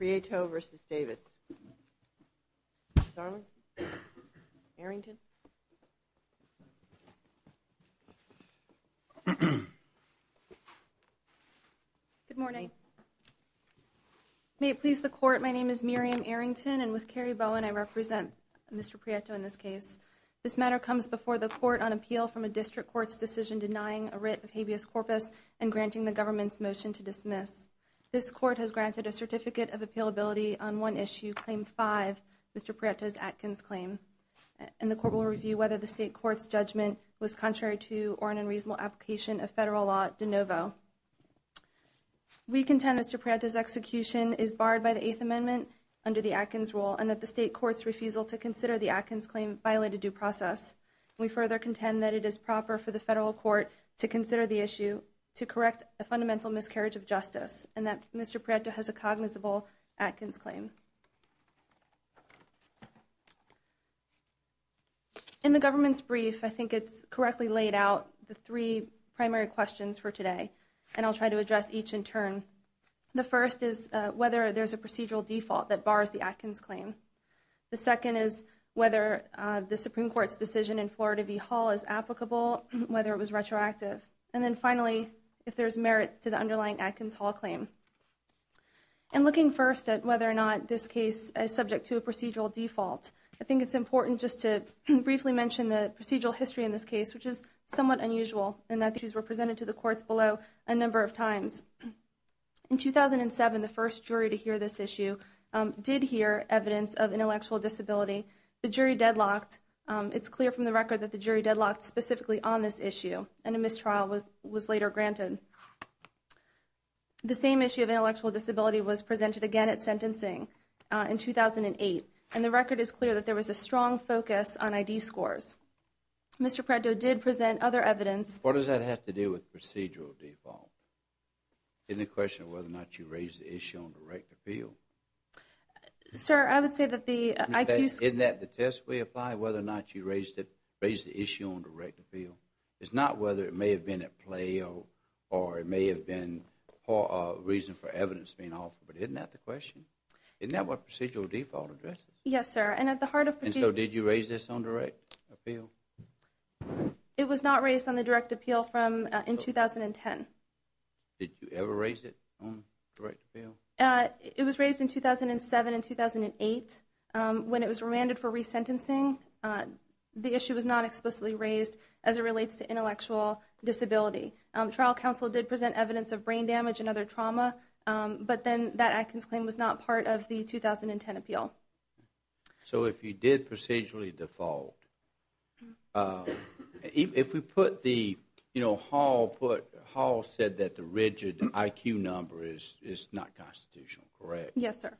Prieto v. Davis. Good morning. May it please the court, my name is Miriam Arrington and with Carrie Bowen I represent Mr. Prieto in this case. This matter comes before the court on appeal from a district court's decision denying a writ of habeas corpus and granting the government's motion to dismiss. This court has granted a certificate of appealability on one issue, claim 5, Mr. Prieto's Atkins claim and the court will review whether the state court's judgment was contrary to or an unreasonable application of federal law de novo. We contend Mr. Prieto's execution is barred by the Eighth Amendment under the Atkins rule and that the state court's refusal to consider the Atkins claim violated due process. We further contend that it is proper for the federal court to consider the issue to correct a fundamental miscarriage of Mr. Prieto has a cognizable Atkins claim. In the government's brief I think it's correctly laid out the three primary questions for today and I'll try to address each in turn. The first is whether there's a procedural default that bars the Atkins claim. The second is whether the Supreme Court's decision in Florida v. Hall is applicable, whether it was retroactive, and then finally if there's merit to the underlying Atkins Hall claim. And looking first at whether or not this case is subject to a procedural default I think it's important just to briefly mention the procedural history in this case which is somewhat unusual and that issues were presented to the courts below a number of times. In 2007 the first jury to hear this issue did hear evidence of intellectual disability. The jury deadlocked. It's clear from the record that the jury deadlocked specifically on this issue and a mistrial was was later granted. The same issue of intellectual disability was presented again at sentencing in 2008 and the record is clear that there was a strong focus on ID scores. Mr. Prieto did present other evidence. What does that have to do with procedural default? Any question of whether or not you raised the issue on direct appeal? Sir, I would say that the IQ... Isn't that the test we apply whether or not you raised it raised the issue on direct appeal? It's not whether it may have been at play or it may have been a reason for evidence being offered but isn't that the question? Isn't that what procedural default addresses? Yes sir and at the heart of... And so did you raise this on direct appeal? It was not raised on the direct appeal from in 2010. Did you ever raise it on direct appeal? It was raised in 2007 and 2008 when it was remanded for resentencing. The issue was not explicitly raised as it relates to intellectual disability. Trial counsel did present evidence of brain damage and other trauma but then that Atkins claim was not part of the 2010 appeal. So if you did procedurally default, if we put the you know Hall said that the rigid IQ number is not constitutional correct? Yes sir.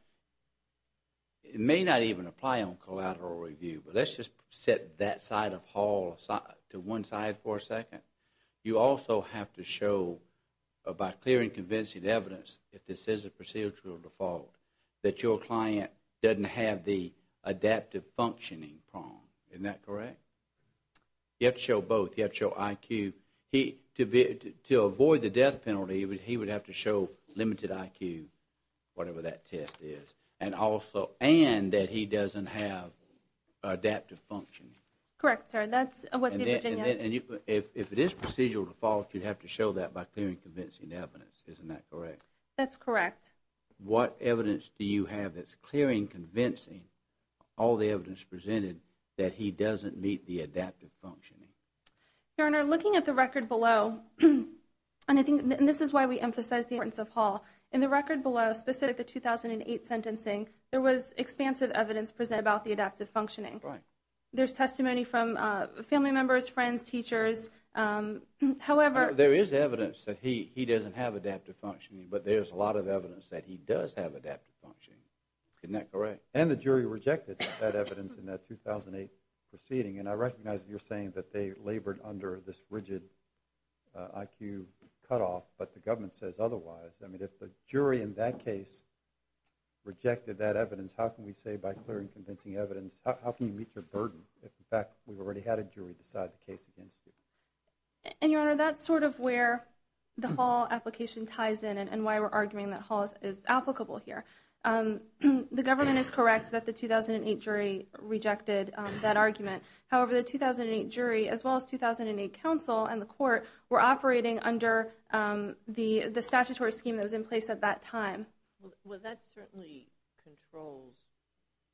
It may not even apply on collateral review but let's just set that side of Hall aside to one side for a second. You also have to show by clear and convincing evidence if this is a procedural default that your client doesn't have the adaptive functioning prong. Isn't that correct? You have to show both. You have to show IQ. To avoid the death penalty he would have to show limited IQ whatever that test is and also and that he doesn't have adaptive functioning. Correct sir. If it is procedural default you have to show that by clear and convincing evidence. Isn't that correct? That's correct. What evidence do you have that's clear and convincing all the evidence presented that he doesn't meet the adaptive functioning? Your Honor, looking at the record below and I think this is why we emphasize the importance of Hall. In the record below specific the adaptive functioning. Right. There's testimony from family members, friends, teachers, however. There is evidence that he doesn't have adaptive functioning but there's a lot of evidence that he does have adaptive functioning. Isn't that correct? And the jury rejected that evidence in that 2008 proceeding and I recognize you're saying that they labored under this rigid IQ cutoff but the government says otherwise. I mean if the jury in that case rejected that evidence how can we say by clear and convincing evidence how can you meet your burden if in fact we've already had a jury decide the case against you? And Your Honor that's sort of where the Hall application ties in and why we're arguing that Hall is applicable here. The government is correct that the 2008 jury rejected that argument however the 2008 jury as well as 2008 counsel and the court were operating under the the statutory scheme that was in place at that time. Well that certainly controls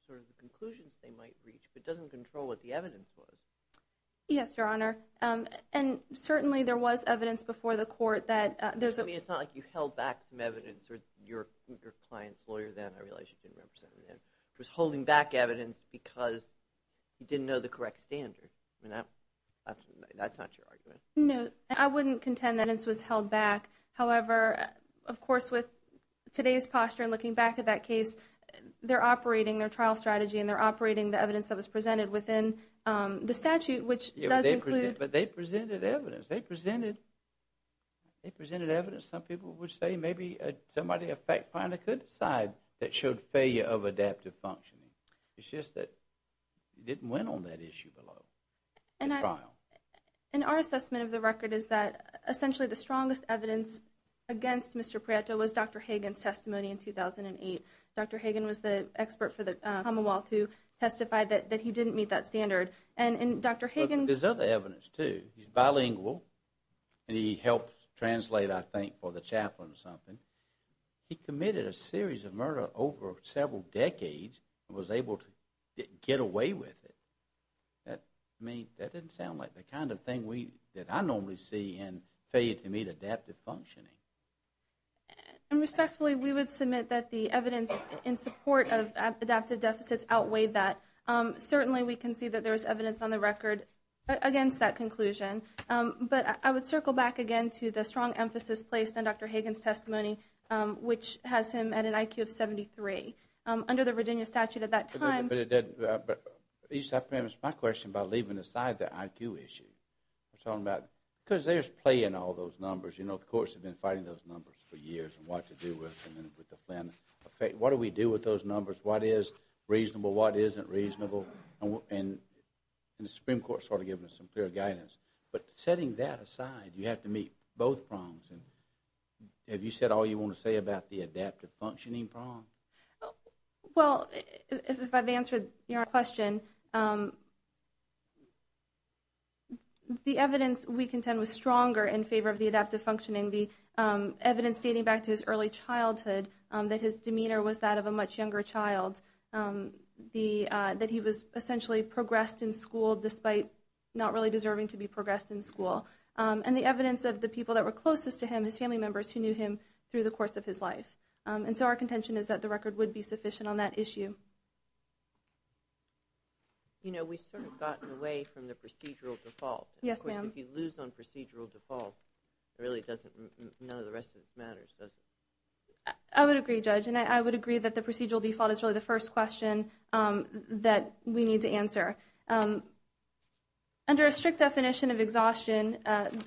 sort of the conclusions they might reach but doesn't control what the evidence was. Yes Your Honor and certainly there was evidence before the court that there's a. I mean it's not like you held back some evidence or your client's lawyer then, I realize you didn't represent him then, was holding back evidence because you didn't know the correct standard. I mean that's not your argument. No I wouldn't contend that it was held back however of course with today's posture and looking back at that case they're operating their trial strategy and they're operating the evidence that was presented within the statute which does include. But they presented evidence, they presented evidence some people would say maybe somebody a fact finder could decide that showed failure of adaptive functioning. It's just that didn't went on that issue below. And our assessment of the record is that essentially the strongest evidence against Mr. Prieto was Dr. Hagen's testimony in 2008. Dr. Hagen was the expert for the Commonwealth who testified that that he didn't meet that standard and Dr. Hagen. There's other evidence too, he's bilingual and he helped translate I think for the chaplain or something. He committed a series of murder over several decades and was able to get away with it. That I mean that didn't sound like the kind of thing we that I normally see in failure to meet adaptive functioning. And respectfully we would submit that the evidence in support of adaptive deficits outweighed that. Certainly we can see that there's evidence on the record against that conclusion. But I would circle back again to the strong emphasis placed on Dr. Hagen's testimony which has him at an IQ of 73. Under the Virginia statute at that time. But it did, but each time it's my question about leaving aside the IQ issue. I'm talking about because there's play in all those numbers. You know the courts have been fighting those numbers for years and what to do with them. What do we do with those numbers? What is reasonable? What isn't reasonable? And the Supreme Court sort of giving us some clear guidance. But setting that aside you have to meet both prongs. And have you said all you want to say about the adaptive functioning prong? Well if I've answered your question, the evidence we contend was stronger in favor of the adaptive functioning. The evidence dating back to his early childhood that his demeanor was that of a much younger child. That he was essentially progressed in school despite not really deserving to be progressed in school. And the evidence of the people that were closest to him, his family members who knew him through the course of his life. And so our contention is that the record would be sufficient on that issue. You know we've gotten away from the procedural default. Yes ma'am. If you lose on procedural default it really doesn't matter. I would agree judge and I would agree that the procedural default is really the first question that we need to answer. Under a strict definition of exhaustion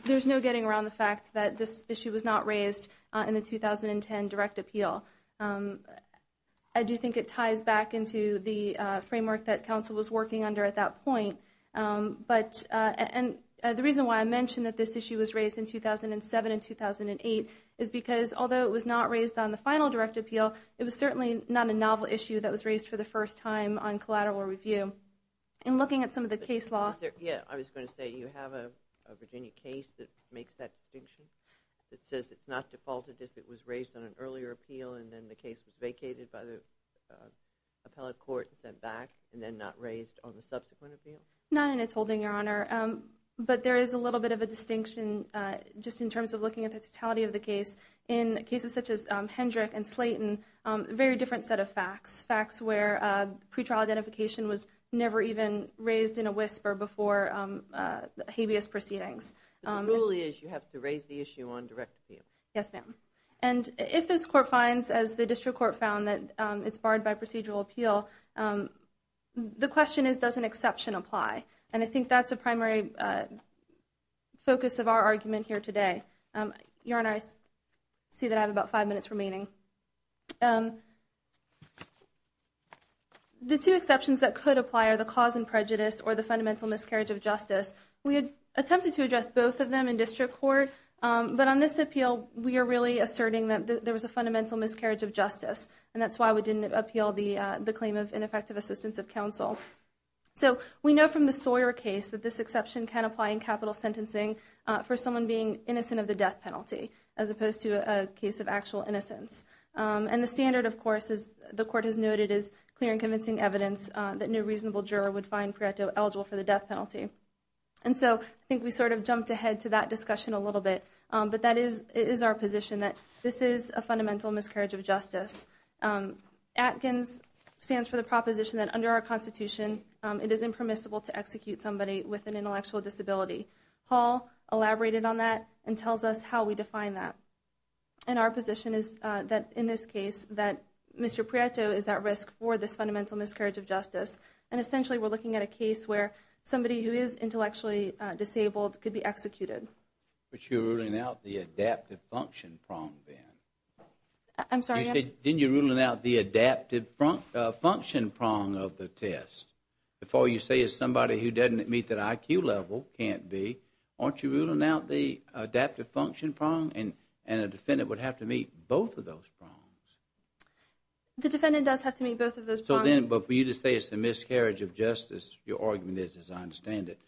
there's no getting around the fact that this issue was not raised in the 2010 direct appeal. I do think it ties back into the point. But and the reason why I mentioned that this issue was raised in 2007 and 2008 is because although it was not raised on the final direct appeal it was certainly not a novel issue that was raised for the first time on collateral review. In looking at some of the case law. Yeah I was going to say you have a Virginia case that makes that distinction. That says it's not defaulted if it was raised on an earlier appeal and then the case was vacated by the appellate court and sent back and then not raised on the subsequent appeal. Not in its holding your honor. But there is a little bit of a distinction just in terms of looking at the totality of the case. In cases such as Hendrick and Slayton a very different set of facts. Facts where pretrial identification was never even raised in a whisper before habeas proceedings. The rule is you have to raise the issue on direct appeal. Yes ma'am. And if this court finds as the district court found that it's barred by procedural appeal. The question is does an exception apply? And I think that's a primary focus of our argument here today. Your honor I see that I have about five minutes remaining. The two exceptions that could apply are the cause and prejudice or the fundamental miscarriage of justice. We had attempted to address both of them in district court but on this appeal we are really asserting that there was a fundamental miscarriage of justice and that's why we didn't appeal the claim of ineffective assistance of counsel. So we know from the Sawyer case that this exception can apply in capital sentencing for someone being innocent of the death penalty as opposed to a case of actual innocence. And the standard of course as the court has noted is clear and convincing evidence that no reasonable juror would find pre-acto eligible for the death penalty. And so I think we sort of jumped ahead to that discussion a little bit but that is it is our position that this is a fundamental miscarriage of justice. Atkins stands for the proposition that under our Constitution it is impermissible to execute somebody with an intellectual disability. Hall elaborated on that and tells us how we define that. And our position is that in this case that Mr. Prieto is at risk for this fundamental miscarriage of justice and essentially we're looking at a case where somebody who is intellectually disabled could be executed. But you're ruling out the adaptive function prong then. I'm sorry? You said then you're ruling out the adaptive function prong of the test. Before you say is somebody who doesn't meet that IQ level can't be, aren't you ruling out the adaptive function prong and and a defendant would have to meet both of those prongs? The defendant does have to meet both of those prongs. So then but for you to say it's a miscarriage of justice your argument is as I understand it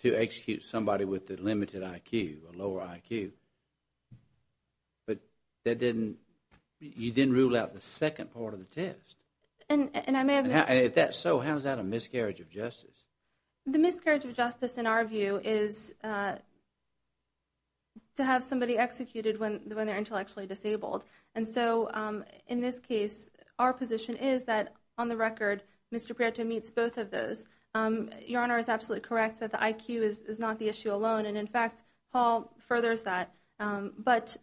to execute somebody with the limited IQ, a lower IQ. But that didn't, you didn't rule out the second part of the test. And I may have missed it. And if that's so how is that a miscarriage of justice? The miscarriage of justice in our view is to have somebody executed when they're intellectually disabled. And so in this case our position is that on the record Mr. Prieto meets both of those. Your is not the issue alone and in fact Hall furthers that. But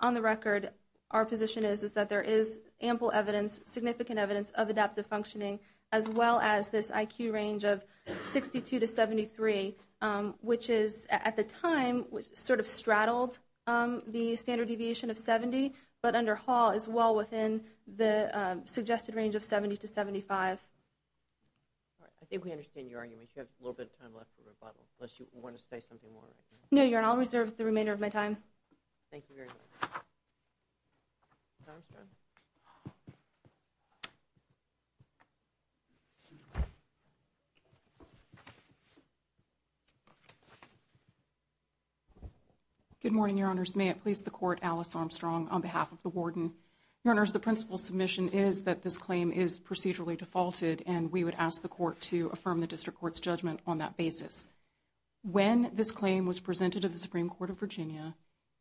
on the record our position is that there is ample evidence, significant evidence of adaptive functioning as well as this IQ range of 62 to 73 which is at the time sort of straddled the standard deviation of 70. But under Hall is well within the suggested range of 70 to 75. I think we understand your argument. You have a little bit of time left for rebuttal. Unless you want to say something more. No, Your Honor. I'll reserve the remainder of my time. Good morning, Your Honors. May it please the court, Alice Armstrong on behalf of the warden. Your Honors, the principal submission is that this claim is procedurally defaulted and we would ask the court to affirm the district court's decision on that basis. When this claim was presented of the Supreme Court of Virginia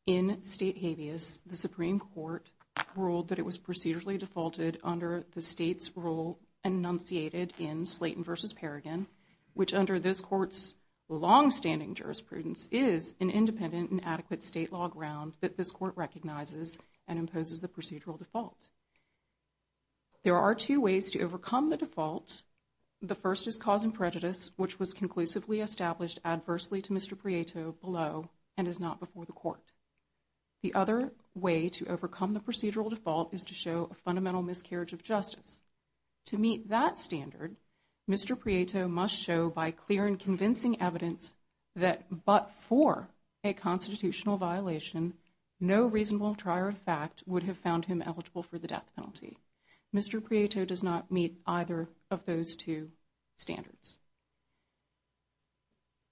in state habeas, the Supreme Court ruled that it was procedurally defaulted under the state's rule enunciated in Slayton versus Perrigan which under this court's long-standing jurisprudence is an independent and adequate state law ground that this court recognizes and imposes the procedural default. There are two ways to overcome the default. The first is cause prejudice which was conclusively established adversely to Mr. Prieto below and is not before the court. The other way to overcome the procedural default is to show a fundamental miscarriage of justice. To meet that standard, Mr. Prieto must show by clear and convincing evidence that but for a constitutional violation, no reasonable trier of fact would have found him eligible for the death penalty. Mr. Prieto does not meet either of those two standards.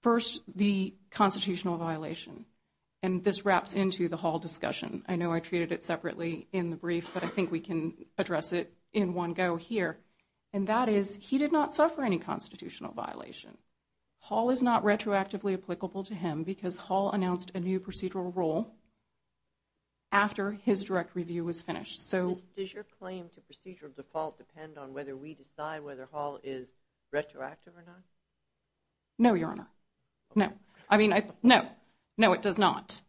First, the constitutional violation and this wraps into the Hall discussion. I know I treated it separately in the brief but I think we can address it in one go here and that is he did not suffer any constitutional violation. Hall is not retroactively applicable to him because Hall announced a new procedural rule after his direct review was finished. So does your claim to procedural default depend on whether we decide whether Hall is retroactive or not? No, your honor. No. I mean, no. No, it does not.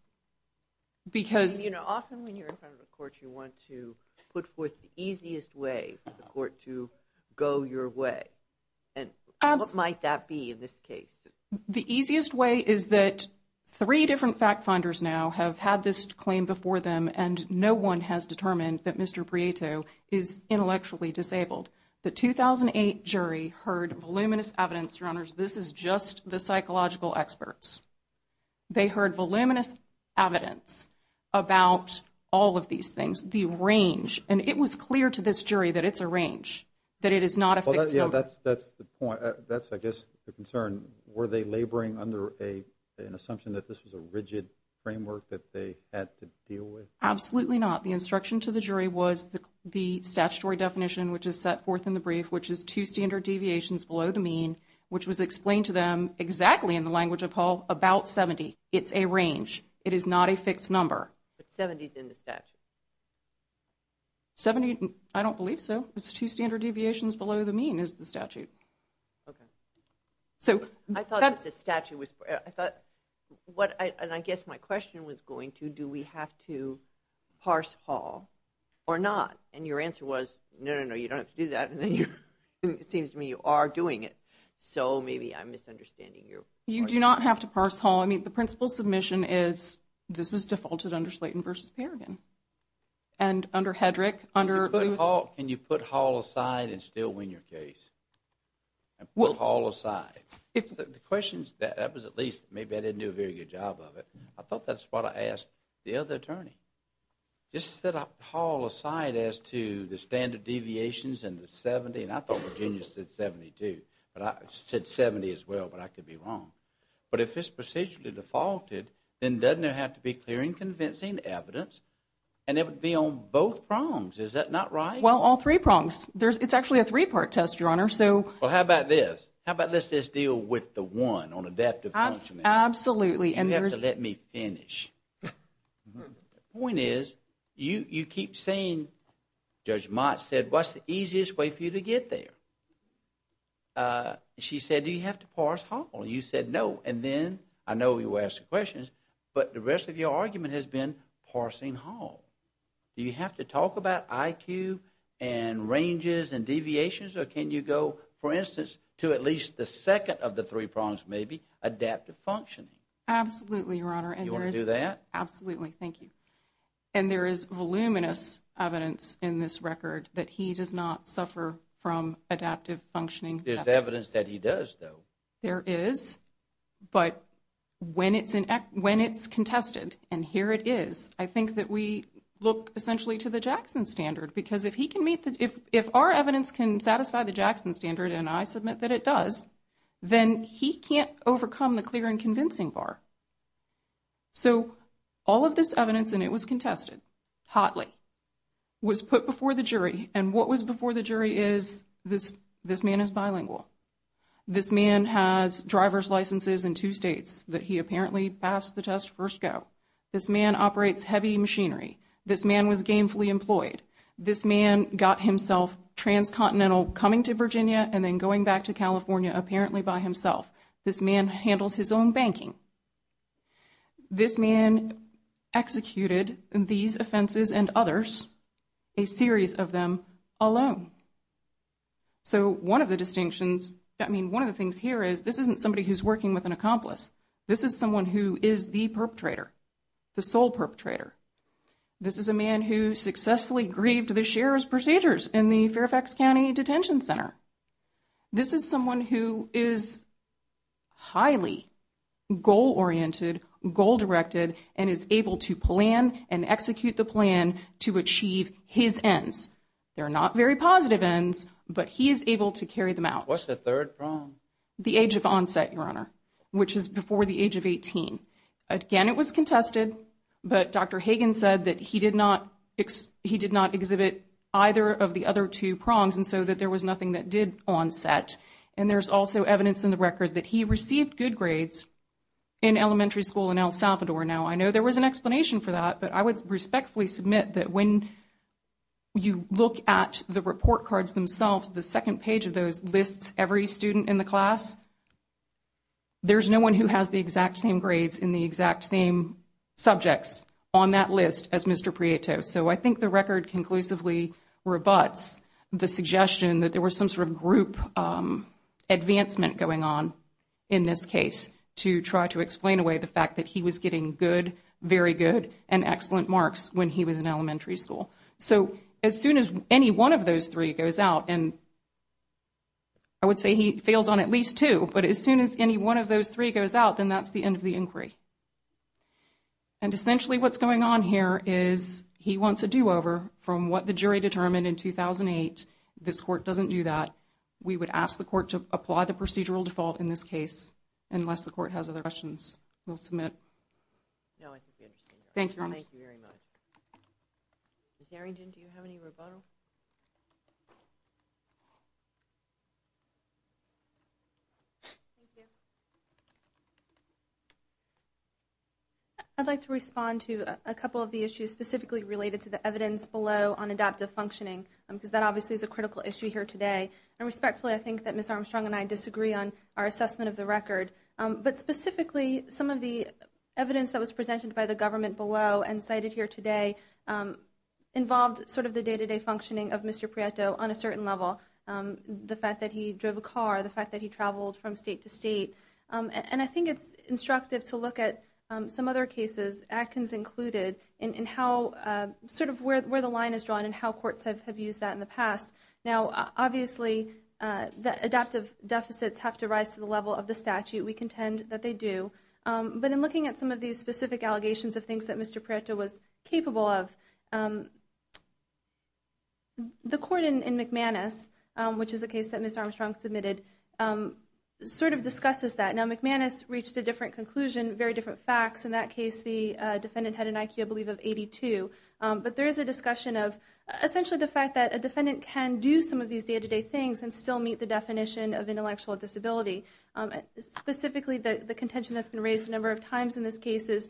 Because you know often when you're in front of a court you want to put forth the easiest way for the court to go your way and what might that be in this case? The easiest way is that three different fact-finders now have had this claim before them and no one has intellectually disabled. The 2008 jury heard voluminous evidence, your honors, this is just the psychological experts. They heard voluminous evidence about all of these things, the range, and it was clear to this jury that it's a range, that it is not a fixed number. That's the point. That's I guess the concern. Were they laboring under an assumption that this was a rigid framework that they had to statutory definition which is set forth in the brief, which is two standard deviations below the mean, which was explained to them exactly in the language of Hall about 70. It's a range. It is not a fixed number. But 70 is in the statute. 70, I don't believe so. It's two standard deviations below the mean is the statute. Okay. So I thought the statute was, I thought, what I guess my question was going to do we have to parse Hall or not? And your answer was, no, no, no, you don't have to do that. It seems to me you are doing it. So maybe I'm misunderstanding. You do not have to parse Hall. I mean the principle submission is this is defaulted under Slayton v. Perrigan. And under Hedrick, under Lewis. Can you put Hall aside and still win your case? Put Hall aside. The question is that, that was at least, maybe I didn't do a very good job of it. I thought that's what I asked the other attorney. Just set up Hall aside as to the standard deviations and the 70. And I thought Virginia said 72. But I said 70 as well. But I could be wrong. But if it's procedurally defaulted, then doesn't it have to be clear and convincing evidence? And it would be on both prongs. Is that not right? Well, all three prongs. There's, it's actually a three-part test, Your Honor. So. Well, how about this? How about let's just deal with the one on adaptive functioning. Absolutely. You have to let me finish. The point is, you, you keep saying, Judge Mott said, what's the easiest way for you to get there? She said, do you have to parse Hall? You said no. And then, I know you asked the questions, but the rest of your argument has been parsing Hall. Do you have to talk about IQ and ranges and deviations? Or can you go, for instance, to at least the second of the three prongs, maybe adaptive functioning? Absolutely, Your Honor. And you want to do that? Absolutely. Thank you. And there is voluminous evidence in this record that he does not suffer from adaptive functioning. There's evidence that he does, though. There is. But when it's in, when it's contested, and here it is, I think that we look essentially to the Jackson Standard. Because if he can meet the, if if our evidence can satisfy the Jackson Standard, and I submit that it does, then he can't overcome the clear and convincing bar. So, all of this evidence, and it was contested, hotly, was put before the jury. And what was before the jury is, this, this man is bilingual. This man has driver's licenses in two states that he apparently passed the test first go. This man operates heavy machinery. This man was gainfully employed. This man got himself transcontinental coming to This man executed these offenses and others, a series of them, alone. So, one of the distinctions, I mean, one of the things here is, this isn't somebody who's working with an accomplice. This is someone who is the perpetrator, the sole perpetrator. This is a man who successfully grieved the sheriff's procedures in the Fairfax County Detention Center. This is someone who is highly goal-oriented, goal-directed, and is able to plan and execute the plan to achieve his ends. They're not very positive ends, but he is able to carry them out. What's the third prong? The age of onset, Your Honor, which is before the age of 18. Again, it was contested, but Dr. Hagen said that he did not, he did not exhibit either of the other two prongs, and so that there was nothing that did that he received good grades in elementary school in El Salvador. Now, I know there was an explanation for that, but I would respectfully submit that when you look at the report cards themselves, the second page of those lists every student in the class. There's no one who has the exact same grades in the exact same subjects on that list as Mr. Prieto. So, I think the record conclusively rebuts the suggestion that there was some sort of group advancement going on in this case to try to explain away the fact that he was getting good, very good, and excellent marks when he was in elementary school. So, as soon as any one of those three goes out, and I would say he fails on at least two, but as soon as any one of those three goes out, then that's the end of the inquiry. And essentially what's going on here is he wants a do-over from what the jury determined in 2008. This court doesn't do that. We would ask the court to apply the procedural default in this case, unless the court has other questions. We'll submit. Thank you very much. Ms. Arrington, do you have any rebuttal? I'd like to respond to a couple of the issues specifically related to the unadoptive functioning, because that obviously is a critical issue here today. And respectfully, I think that Ms. Armstrong and I disagree on our assessment of the record. But specifically, some of the evidence that was presented by the government below and cited here today involved sort of the day-to-day functioning of Mr. Prieto on a certain level. The fact that he drove a car, the fact that he traveled from state to state. And I think it's instructive to look at some other cases, Atkins included, and how sort of where the line is drawn and how courts have used that in the past. Now, obviously, the adaptive deficits have to rise to the level of the statute. We contend that they do. But in looking at some of these specific allegations of things that Mr. Prieto was capable of, the court in McManus, which is a case that Ms. Armstrong submitted, sort of discusses that. Now, McManus reached a different conclusion, very different facts. In that case, the defendant had an IQ, I believe, of 82. But there is a discussion of, essentially, the fact that a defendant can do some of these day-to-day things and still meet the definition of intellectual disability. Specifically, the contention that's been raised a number of times in this case is,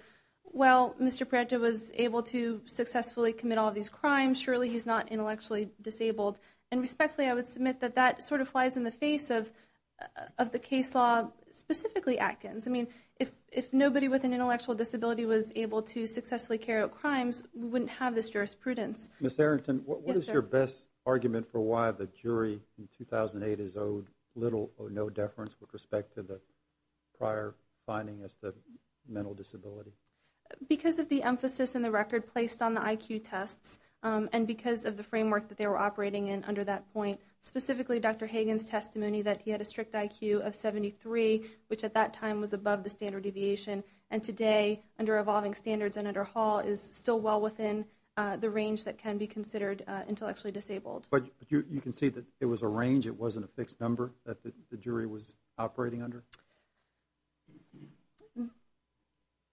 well, Mr. Prieto was able to successfully commit all of these crimes. Surely, he's not intellectually disabled. And respectfully, I would submit that that sort of flies in the face of the case law, specifically Atkins. I mean, if nobody with an intellectual disability was able to commit these crimes, we wouldn't have this jurisprudence. Ms. Arrington, what is your best argument for why the jury in 2008 is owed little or no deference with respect to the prior finding as the mental disability? Because of the emphasis in the record placed on the IQ tests and because of the framework that they were operating in under that point. Specifically, Dr. Hagen's testimony that he had a strict IQ of 73, which at that time was above the standard deviation. And today, under evolving standards and under Hall, is still well within the range that can be considered intellectually disabled. But you can see that it was a range, it wasn't a fixed number that the jury was operating under?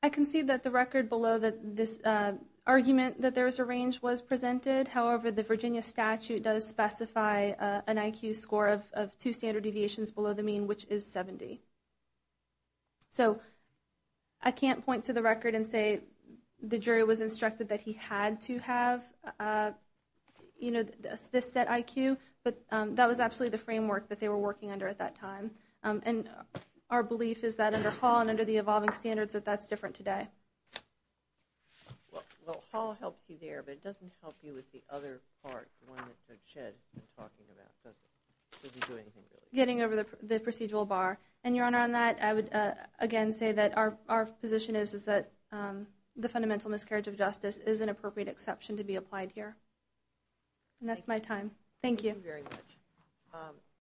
I can see that the record below that this argument that there was a range was presented. However, the Virginia statute does specify an IQ score of two standard deviations below the mean, which is 70. So, I can't point to the record and say the jury was instructed that he had to have, you know, this set IQ, but that was absolutely the framework that they were working under at that time. And our belief is that under Hall and under the evolving standards, that that's different today. Well, Hall helps you there, but it doesn't help you with the other part, the one that Mr. Chedd has been talking about. Getting over the procedural bar. And your Honor, on that, I would again say that our position is that the fundamental miscarriage of justice is an appropriate exception to be applied here. And that's my time. Thank you.